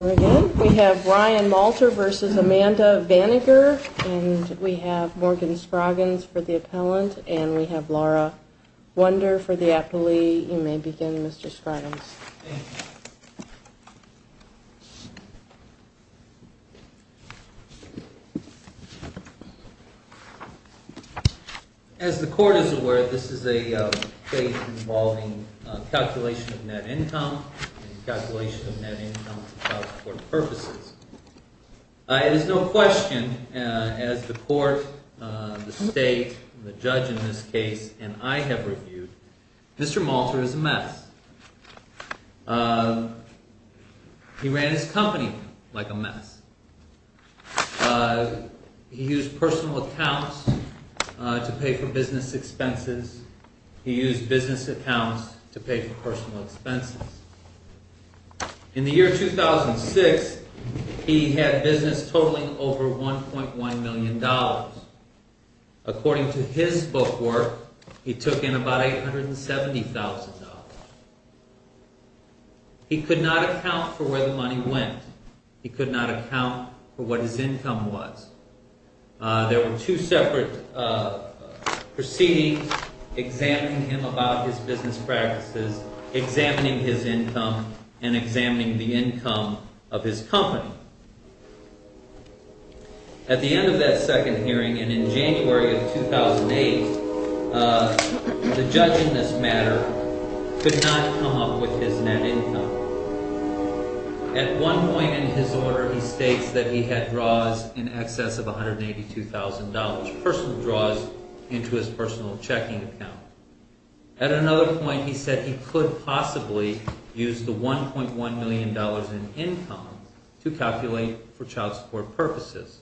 We have Ryan Malter v. Amanda Vaninger, and we have Morgan Scroggins for the appellant, and we have Laura Wunder for the appellee. You may begin, Mr. Scroggins. Scroggins As the Court is aware, this is a case involving calculation of net income and calculation of net income for court purposes. It is no question, as the Court, the State, the judge in this case, and I have reviewed, Mr. Malter is a mess. He ran his company like a mess. He used personal accounts to pay for business expenses. He used business accounts to pay for personal expenses. In the year 2006, he had business totaling over $1.1 million. According to his book work, he took in about $870,000. He could not account for where the money went. He could not account for what his income was. There were two separate proceedings examining him about his business practices, examining his income, and examining the income of his company. At the end of that second hearing, and in January of 2008, the judge in this matter could not come up with his net income. At one point in his order, he states that he had draws in excess of $182,000, personal draws into his personal checking account. At another point, he said he could possibly use the $1.1 million in income to calculate for child support purposes.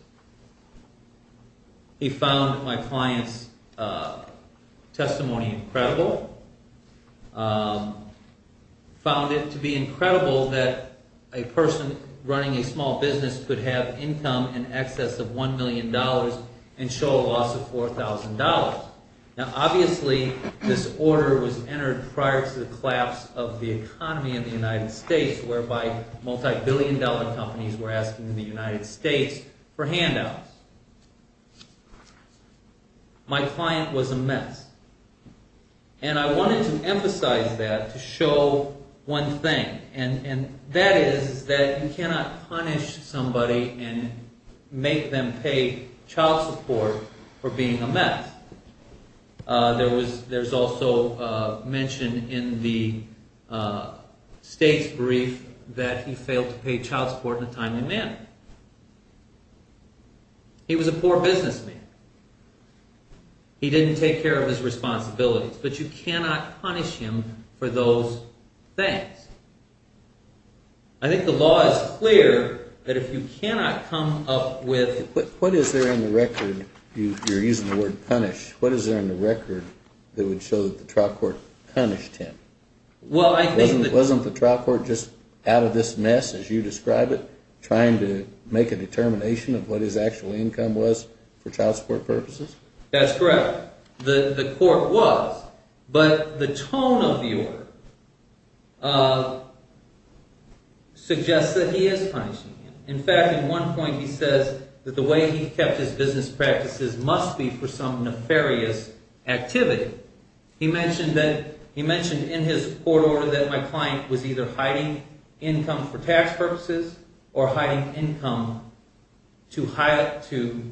He found my client's testimony incredible, found it to be incredible that a person running a small business could have income in excess of $1 million and show a loss of $4,000. Now obviously, this order was entered prior to the collapse of the economy in the United States, whereby multi-billion dollar companies were asking the United States for handouts. My client was a mess, and I wanted to emphasize that to show one thing, and that is that you cannot punish somebody and make them pay child support for being a mess. There's also mention in the state's brief that he failed to pay child support in a timely manner. He was a poor businessman. He didn't take care of his responsibilities, but you cannot punish him for those things. I think the law is clear that if you cannot come up with… What is there in the record? You're using the word punish. What is there in the record that would show that the trial court punished him? Wasn't the trial court just out of this mess, as you describe it, trying to make a determination of what his actual income was for child support purposes? That's correct. The court was, but the tone of the order suggests that he is punishing him. In fact, at one point he says that the way he kept his business practices must be for some nefarious activity. He mentioned in his court order that my client was either hiding income for tax purposes or hiding income to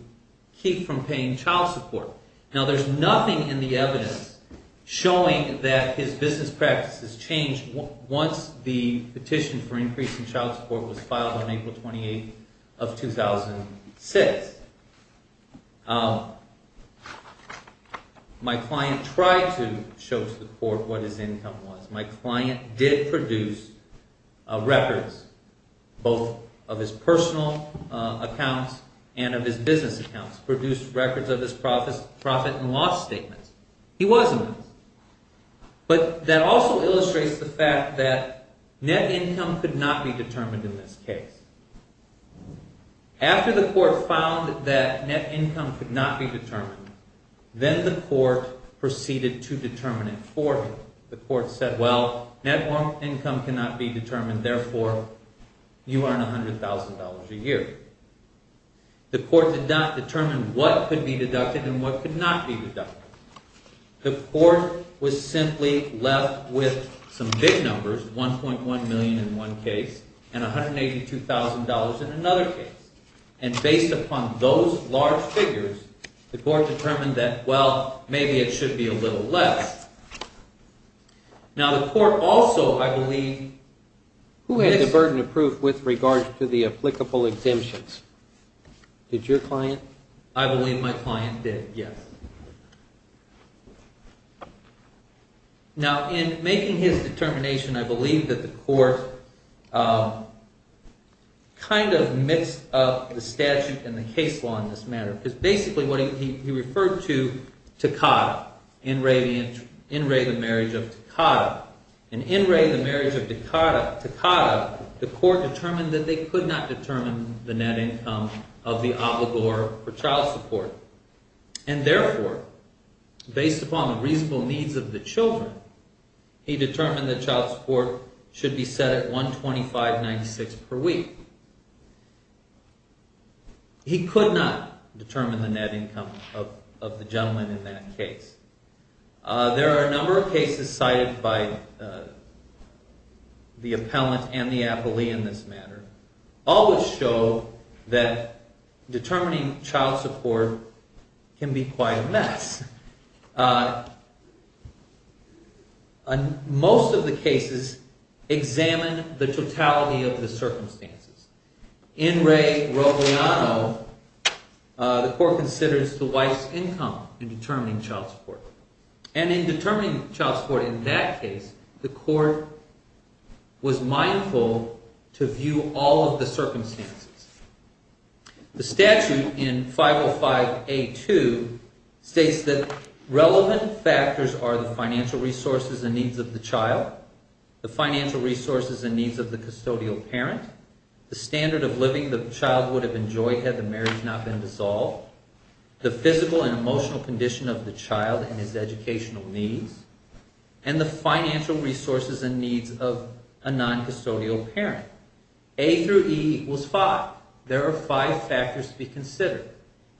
keep from paying child support. Now, there's nothing in the evidence showing that his business practices changed once the petition for increase in child support was filed on April 28th of 2006. My client tried to show to the court what his income was. My client did produce records, both of his personal accounts and of his business accounts, produced records of his profit and loss statements. He was in this. But that also illustrates the fact that net income could not be determined in this case. After the court found that net income could not be determined, then the court proceeded to determine it for him. The court said, well, net income cannot be determined, therefore you earn $100,000 a year. The court did not determine what could be deducted and what could not be deducted. The court was simply left with some big numbers, $1.1 million in one case and $182,000 in another case. And based upon those large figures, the court determined that, well, maybe it should be a little less. Now, the court also, I believe, Who had the burden of proof with regard to the applicable exemptions? Did your client? I believe my client did, yes. Now, in making his determination, I believe that the court kind of mixed up the statute and the case law in this matter. Because basically, he referred to Takata, In re, the marriage of Takata. In In re, the marriage of Takata, the court determined that they could not determine the net income of the obligor for child support. And therefore, based upon the reasonable needs of the children, he determined that child support should be set at $125.96 per week. He could not determine the net income of the gentleman in that case. There are a number of cases cited by the appellant and the appellee in this matter. All would show that determining child support can be quite a mess. Most of the cases examine the totality of the circumstances. In re, the court considers the wife's income in determining child support. And in determining child support in that case, the court was mindful to view all of the circumstances. The statute in 505A2 states that relevant factors are the financial resources and needs of the child, the financial resources and needs of the custodial parent, the standard of living the child would have enjoyed had the marriage not been dissolved, the physical and emotional condition of the child and his educational needs, and the financial resources and needs of a non-custodial parent. A through E equals five. There are five factors to be considered.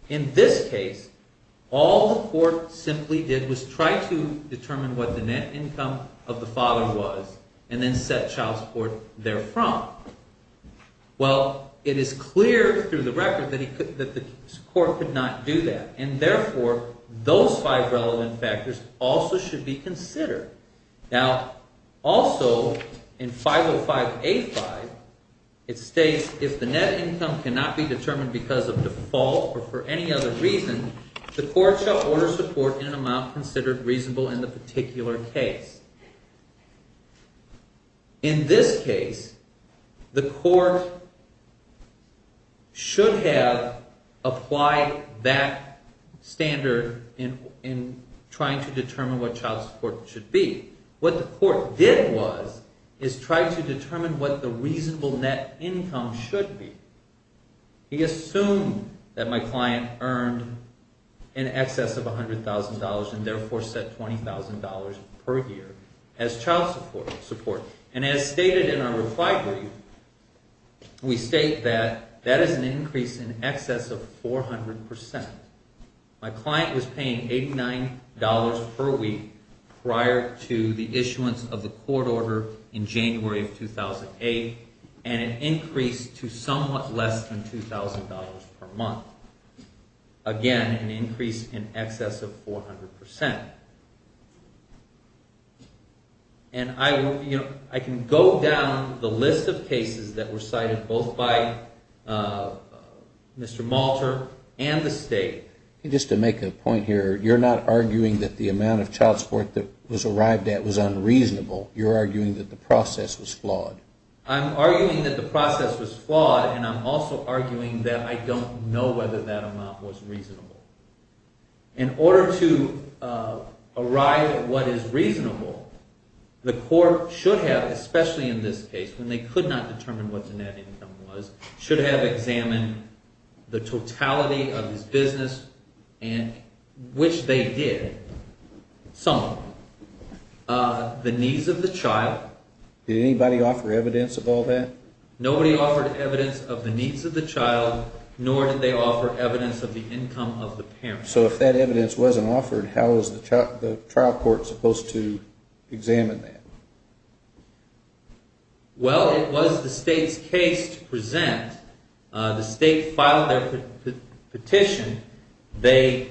In this case, all the court simply did was try to determine what the net income of the father was, and then set child support therefrom. Well, it is clear through the record that the court could not do that. And therefore, those five relevant factors also should be considered. Now, also, in 505A5, it states if the net income cannot be determined because of default or for any other reason, the court shall order support in an amount considered reasonable in the particular case. In this case, the court should have applied that standard in trying to determine what child support should be. What the court did was, is try to determine what the reasonable net income should be. He assumed that my client earned in excess of $100,000 and therefore set $20,000 per year as child support. And as stated in our reply brief, we state that that is an increase in excess of 400%. My client was paying $89 per week prior to the issuance of the court order in January of 2008, and an increase to somewhat less than $2,000 per month. Again, an increase in excess of 400%. And I can go down the list of cases that were cited both by Mr. Malter and the state. Just to make a point here, you're not arguing that the amount of child support that was arrived at was unreasonable. You're arguing that the process was flawed. I'm arguing that the process was flawed, and I'm also arguing that I don't know whether that amount was reasonable. In order to arrive at what is reasonable, the court should have, especially in this case when they could not determine what the net income was, should have examined the totality of his business, which they did, some of them. The needs of the child. Did anybody offer evidence of all that? Nobody offered evidence of the needs of the child, nor did they offer evidence of the income of the parent. So if that evidence wasn't offered, how is the trial court supposed to examine that? Well, it was the state's case to present. The state filed their petition. Okay,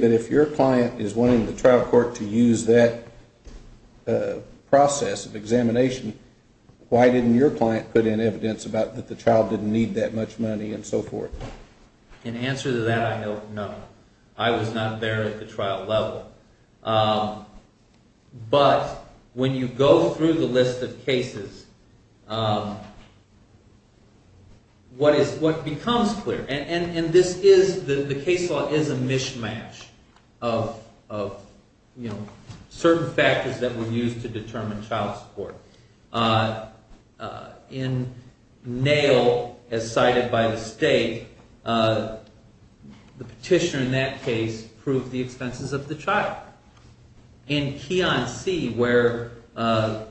but if your client is wanting the trial court to use that process of examination, why didn't your client put in evidence that the child didn't need that much money and so forth? In answer to that, I don't know. I was not there at the trial level. But when you go through the list of cases, what becomes clear, and the case law is a mishmash of certain factors that were used to determine child support. In Nail, as cited by the state, the petitioner in that case proved the expenses of the child. In Keyon C, where the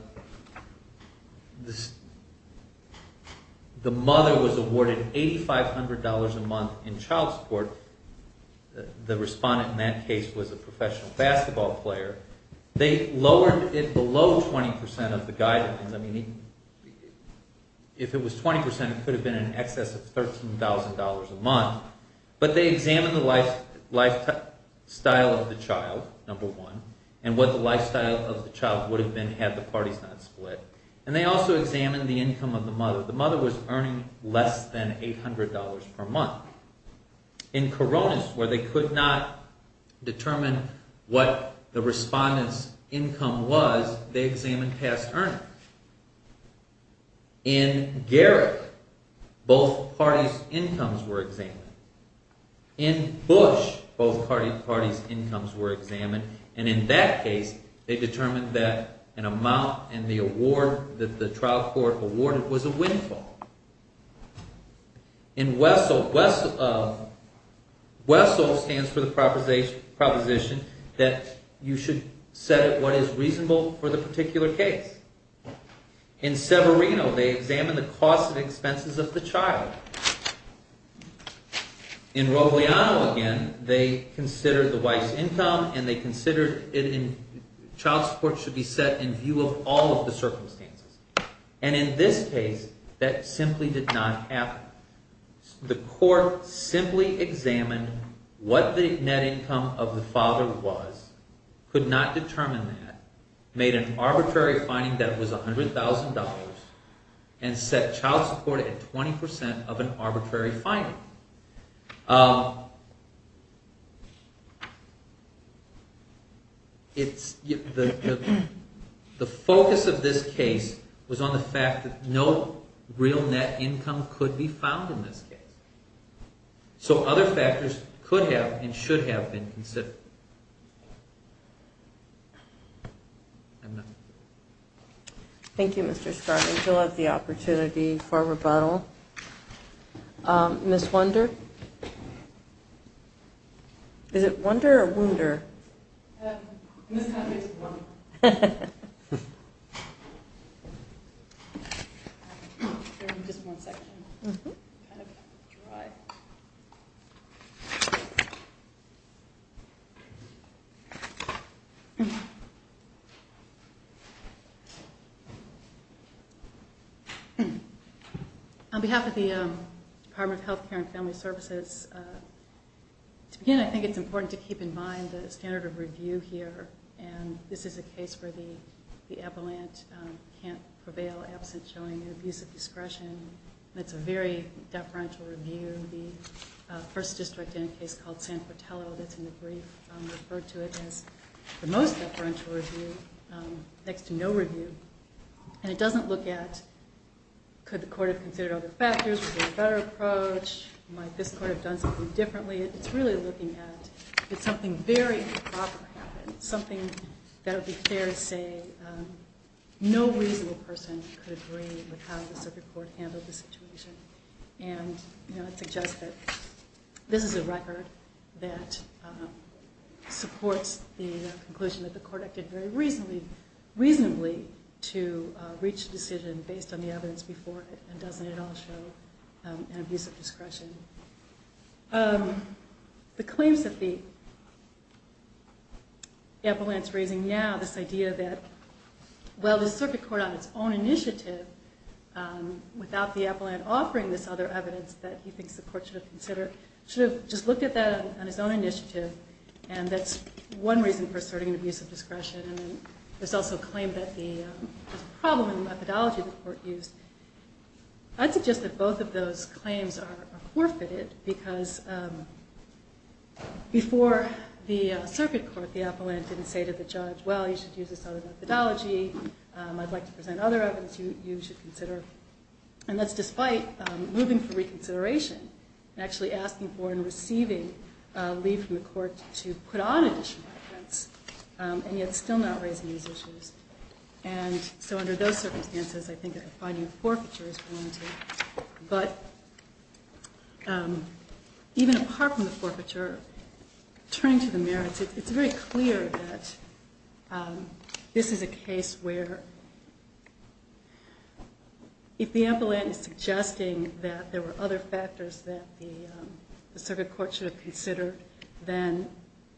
mother was awarded $8,500 a month in child support, the respondent in that case was a professional basketball player, they lowered it below 20% of the guidance. If it was 20%, it could have been in excess of $13,000 a month. But they examined the lifestyle of the child, number one, and what the lifestyle of the child would have been had the parties not split. And they also examined the income of the mother. The mother was earning less than $800 per month. In Koronis, where they could not determine what the respondent's income was, they examined past earnings. In Garrick, both parties' incomes were examined. In Bush, both parties' incomes were examined. And in that case, they determined that an amount in the award that the trial court awarded was a windfall. In Wessel, Wessel stands for the proposition that you should set what is reasonable for the particular case. In Severino, they examined the costs and expenses of the child. In Rogliano, again, they considered the wife's income and they considered child support should be set in view of all of the circumstances. And in this case, that simply did not happen. The court simply examined what the net income of the father was, could not determine that, made an arbitrary finding that it was $100,000, and set child support at 20% of an arbitrary finding. The focus of this case was on the fact that no real net income could be found in this case. So other factors could have and should have been considered. Thank you. Thank you, Mr. Scott. We still have the opportunity for rebuttal. Ms. Wunder? Is it Wunder or Wunder? Ms. Wunder. Just one second. Thank you. On behalf of the Department of Health Care and Family Services, to begin, I think it's important to keep in mind the standard of review here. And this is a case where the appellant can't prevail absent showing an abuse of discretion. It's a very deferential review. The first district in a case called San Portello that's in the brief referred to it as the most deferential review next to no review. And it doesn't look at could the court have considered other factors, was there a better approach, might this court have done something differently. It's really looking at did something very improper happen, something that would be fair to say no reasonable person could agree with how the circuit court handled it. And it suggests that this is a record that supports the conclusion that the court acted very reasonably to reach a decision based on the evidence before it. And doesn't it all show an abuse of discretion. The claims that the appellant's raising now, this idea that while the circuit court on its own initiative without the appellant offering this other evidence that he thinks the court should have considered, should have just looked at that on his own initiative and that's one reason for asserting an abuse of discretion. There's also a claim that there's a problem in the methodology the court used. I'd suggest that both of those claims are forfeited because before the circuit court the appellant didn't say to the judge well you should use this other methodology. I'd like to present other evidence you should consider. And that's despite moving for reconsideration and actually asking for and receiving leave from the court to put on additional evidence. And yet still not raising these issues. And so under those circumstances I think that finding forfeiture is warranted. But even apart from the forfeiture, turning to the merits, it's very clear that this is a case where if the appellant is suggesting that there were other factors that the circuit court should have considered, then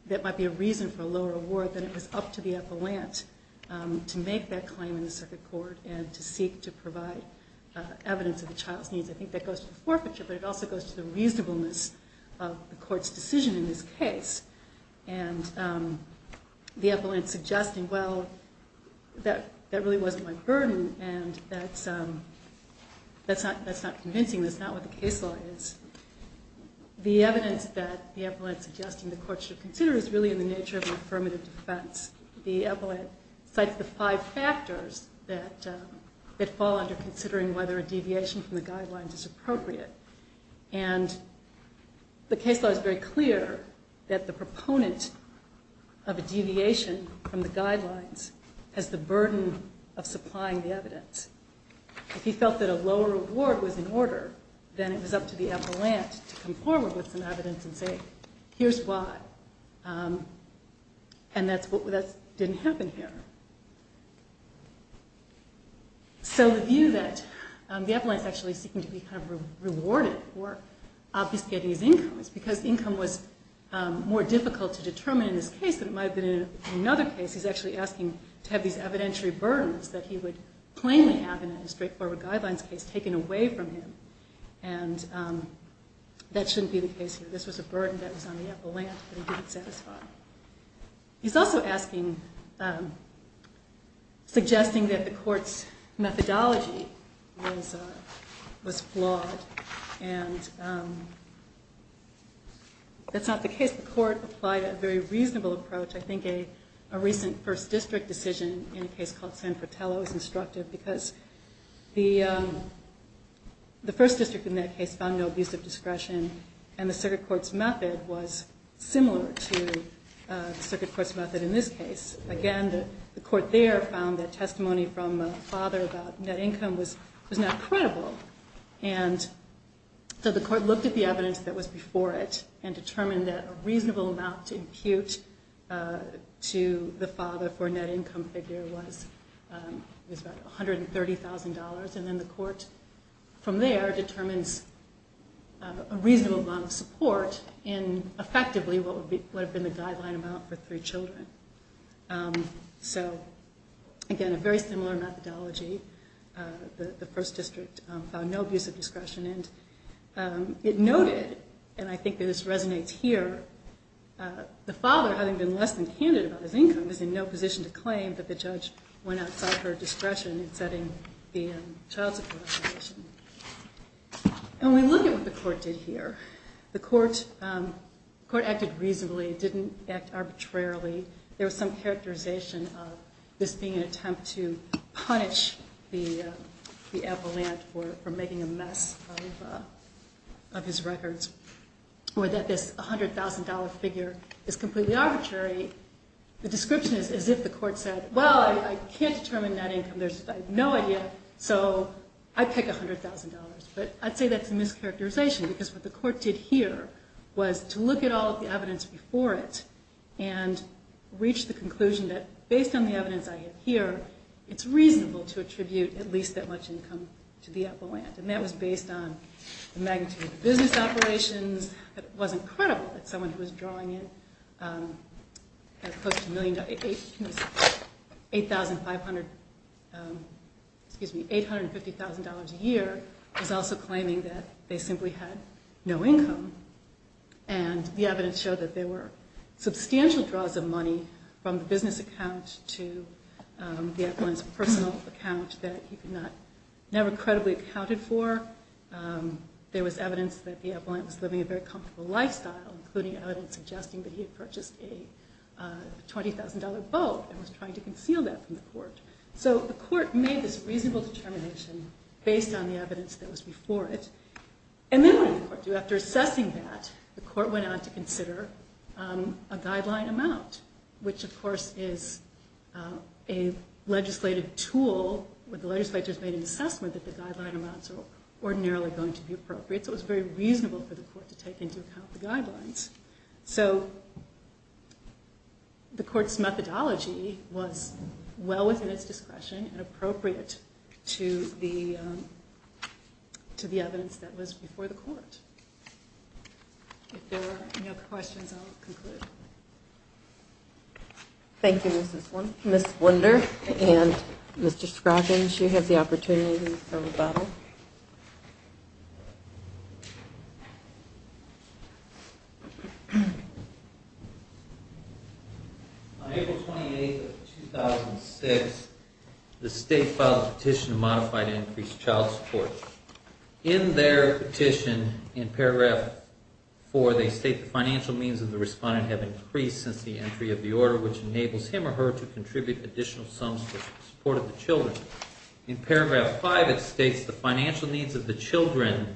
that might be a reason for a lower award than it was up to the appellant to make that claim in the circuit court and to seek to provide evidence of the child's needs. I think that goes to the forfeiture but it also goes to the reasonableness of the court's decision in this case. And the appellant suggesting well that really wasn't my burden and that's not convincing. That's not what the case law is. The evidence that the appellant is suggesting the court should consider is really in the nature of an affirmative defense. The appellant cites the five factors that fall under considering whether a deviation from the guidelines is appropriate. And the case law is very clear that the proponent of a deviation from the guidelines has the burden of supplying the evidence. If he felt that a lower award was in order, then it was up to the appellant to come forward with some evidence and say here's why. And that didn't happen here. So the view that the appellant is actually seeking to be rewarded for obfuscating his income is because income was more difficult to determine in this case than it might have been in another case. He's actually asking to have these evidentiary burdens that he would plainly have in a straightforward guidelines case taken away from him. And that shouldn't be the case here. This was a burden that was on the appellant that he didn't satisfy. He's also asking, suggesting that the court's methodology was flawed and that's not the case. In this case, the court applied a very reasonable approach. I think a recent first district decision in a case called San Fratello is instructive because the first district in that case found no abusive discretion. And the circuit court's method was similar to the circuit court's method in this case. Again, the court there found that testimony from a father about net income was not credible. And so the court looked at the evidence that was before it and determined that a reasonable amount to impute to the father for a net income figure was about $130,000. And then the court from there determines a reasonable amount of support in effectively what would have been the guideline amount for three children. So, again, a very similar methodology. The first district found no abusive discretion. And it noted, and I think this resonates here, the father having been less than candid about his income is in no position to claim that the judge went outside her discretion in setting the child support obligation. And when we look at what the court did here, the court acted reasonably. It didn't act arbitrarily. There was some characterization of this being an attempt to punish the appellant for making a mess of his records. Or that this $100,000 figure is completely arbitrary. The description is as if the court said, well, I can't determine net income. I have no idea, so I pick $100,000. But I'd say that's a mischaracterization because what the court did here was to look at all of the evidence before it and reach the conclusion that based on the evidence I have here, it's reasonable to attribute at least that much income to the appellant. And that was based on the magnitude of the business operations. But it wasn't credible that someone who was drawing in close to $8,500, excuse me, $850,000 a year was also claiming that they simply had no income. And the evidence showed that there were substantial draws of money from the business account to the appellant's personal account that he could not, never credibly accounted for. There was evidence that the appellant was living a very comfortable lifestyle, including evidence suggesting that he had purchased a $20,000 boat and was trying to conceal that from the court. So the court made this reasonable determination based on the evidence that was before it. And then what did the court do? After assessing that, the court went on to consider a guideline amount, which of course is a legislative tool where the legislature has made an assessment that the guideline amounts are ordinarily going to be appropriate. So it was very reasonable for the court to take into account the guidelines. So the court's methodology was well within its discretion and appropriate to the evidence that was before the court. If there are any other questions, I'll conclude. Thank you, Ms. Wunder. Ms. Wunder and Mr. Scroggins, you have the opportunity for rebuttal. On April 28, 2006, the state filed a petition to modify the increased child support. In their petition, in paragraph 4, they state the financial needs of the respondent have increased since the entry of the order, which enables him or her to contribute additional sums for the support of the children. In paragraph 5, it states the financial needs of the children,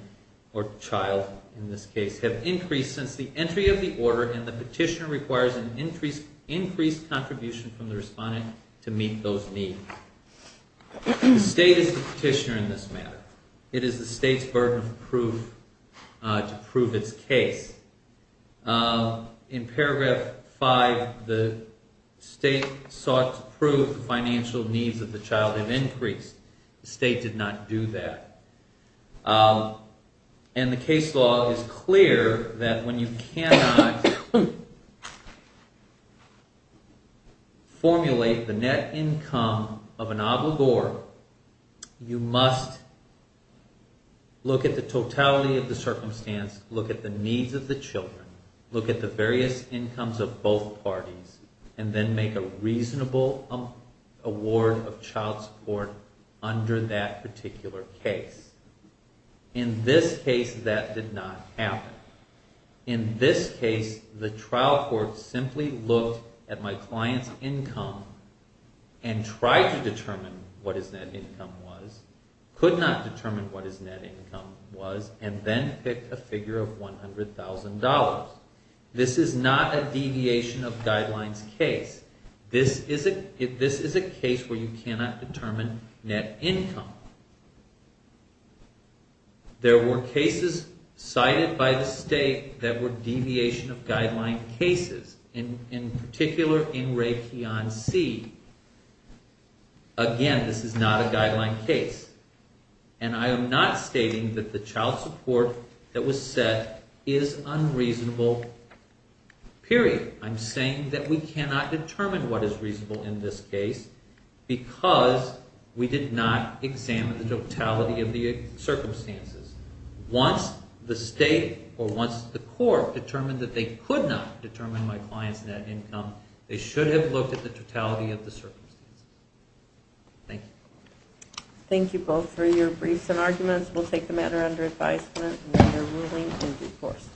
or child in this case, have increased since the entry of the order, and the petitioner requires an increased contribution from the respondent to meet those needs. The state is the petitioner in this matter. It is the state's burden of proof to prove its case. In paragraph 5, the state sought to prove the financial needs of the child have increased. The state did not do that. The case law is clear that when you cannot formulate the net income of an obligor, you must look at the totality of the circumstance, look at the needs of the children, look at the various incomes of both parties, and then make a reasonable award of child support under that particular case. In this case, that did not happen. In this case, the trial court simply looked at my client's income and tried to determine what his net income was, could not determine what his net income was, and then picked a figure of $100,000. This is not a deviation of guidelines case. This is a case where you cannot determine net income. There were cases cited by the state that were deviation of guideline cases, in particular, in Raytheon C. Again, this is not a guideline case. And I am not stating that the child support that was set is unreasonable, period. I'm saying that we cannot determine what is reasonable in this case because we did not examine the totality of the circumstances. Once the state or once the court determined that they could not determine my client's net income, they should have looked at the totality of the circumstances. Thank you. Thank you both for your briefs and arguments. We'll take the matter under advisement and the ruling in due course.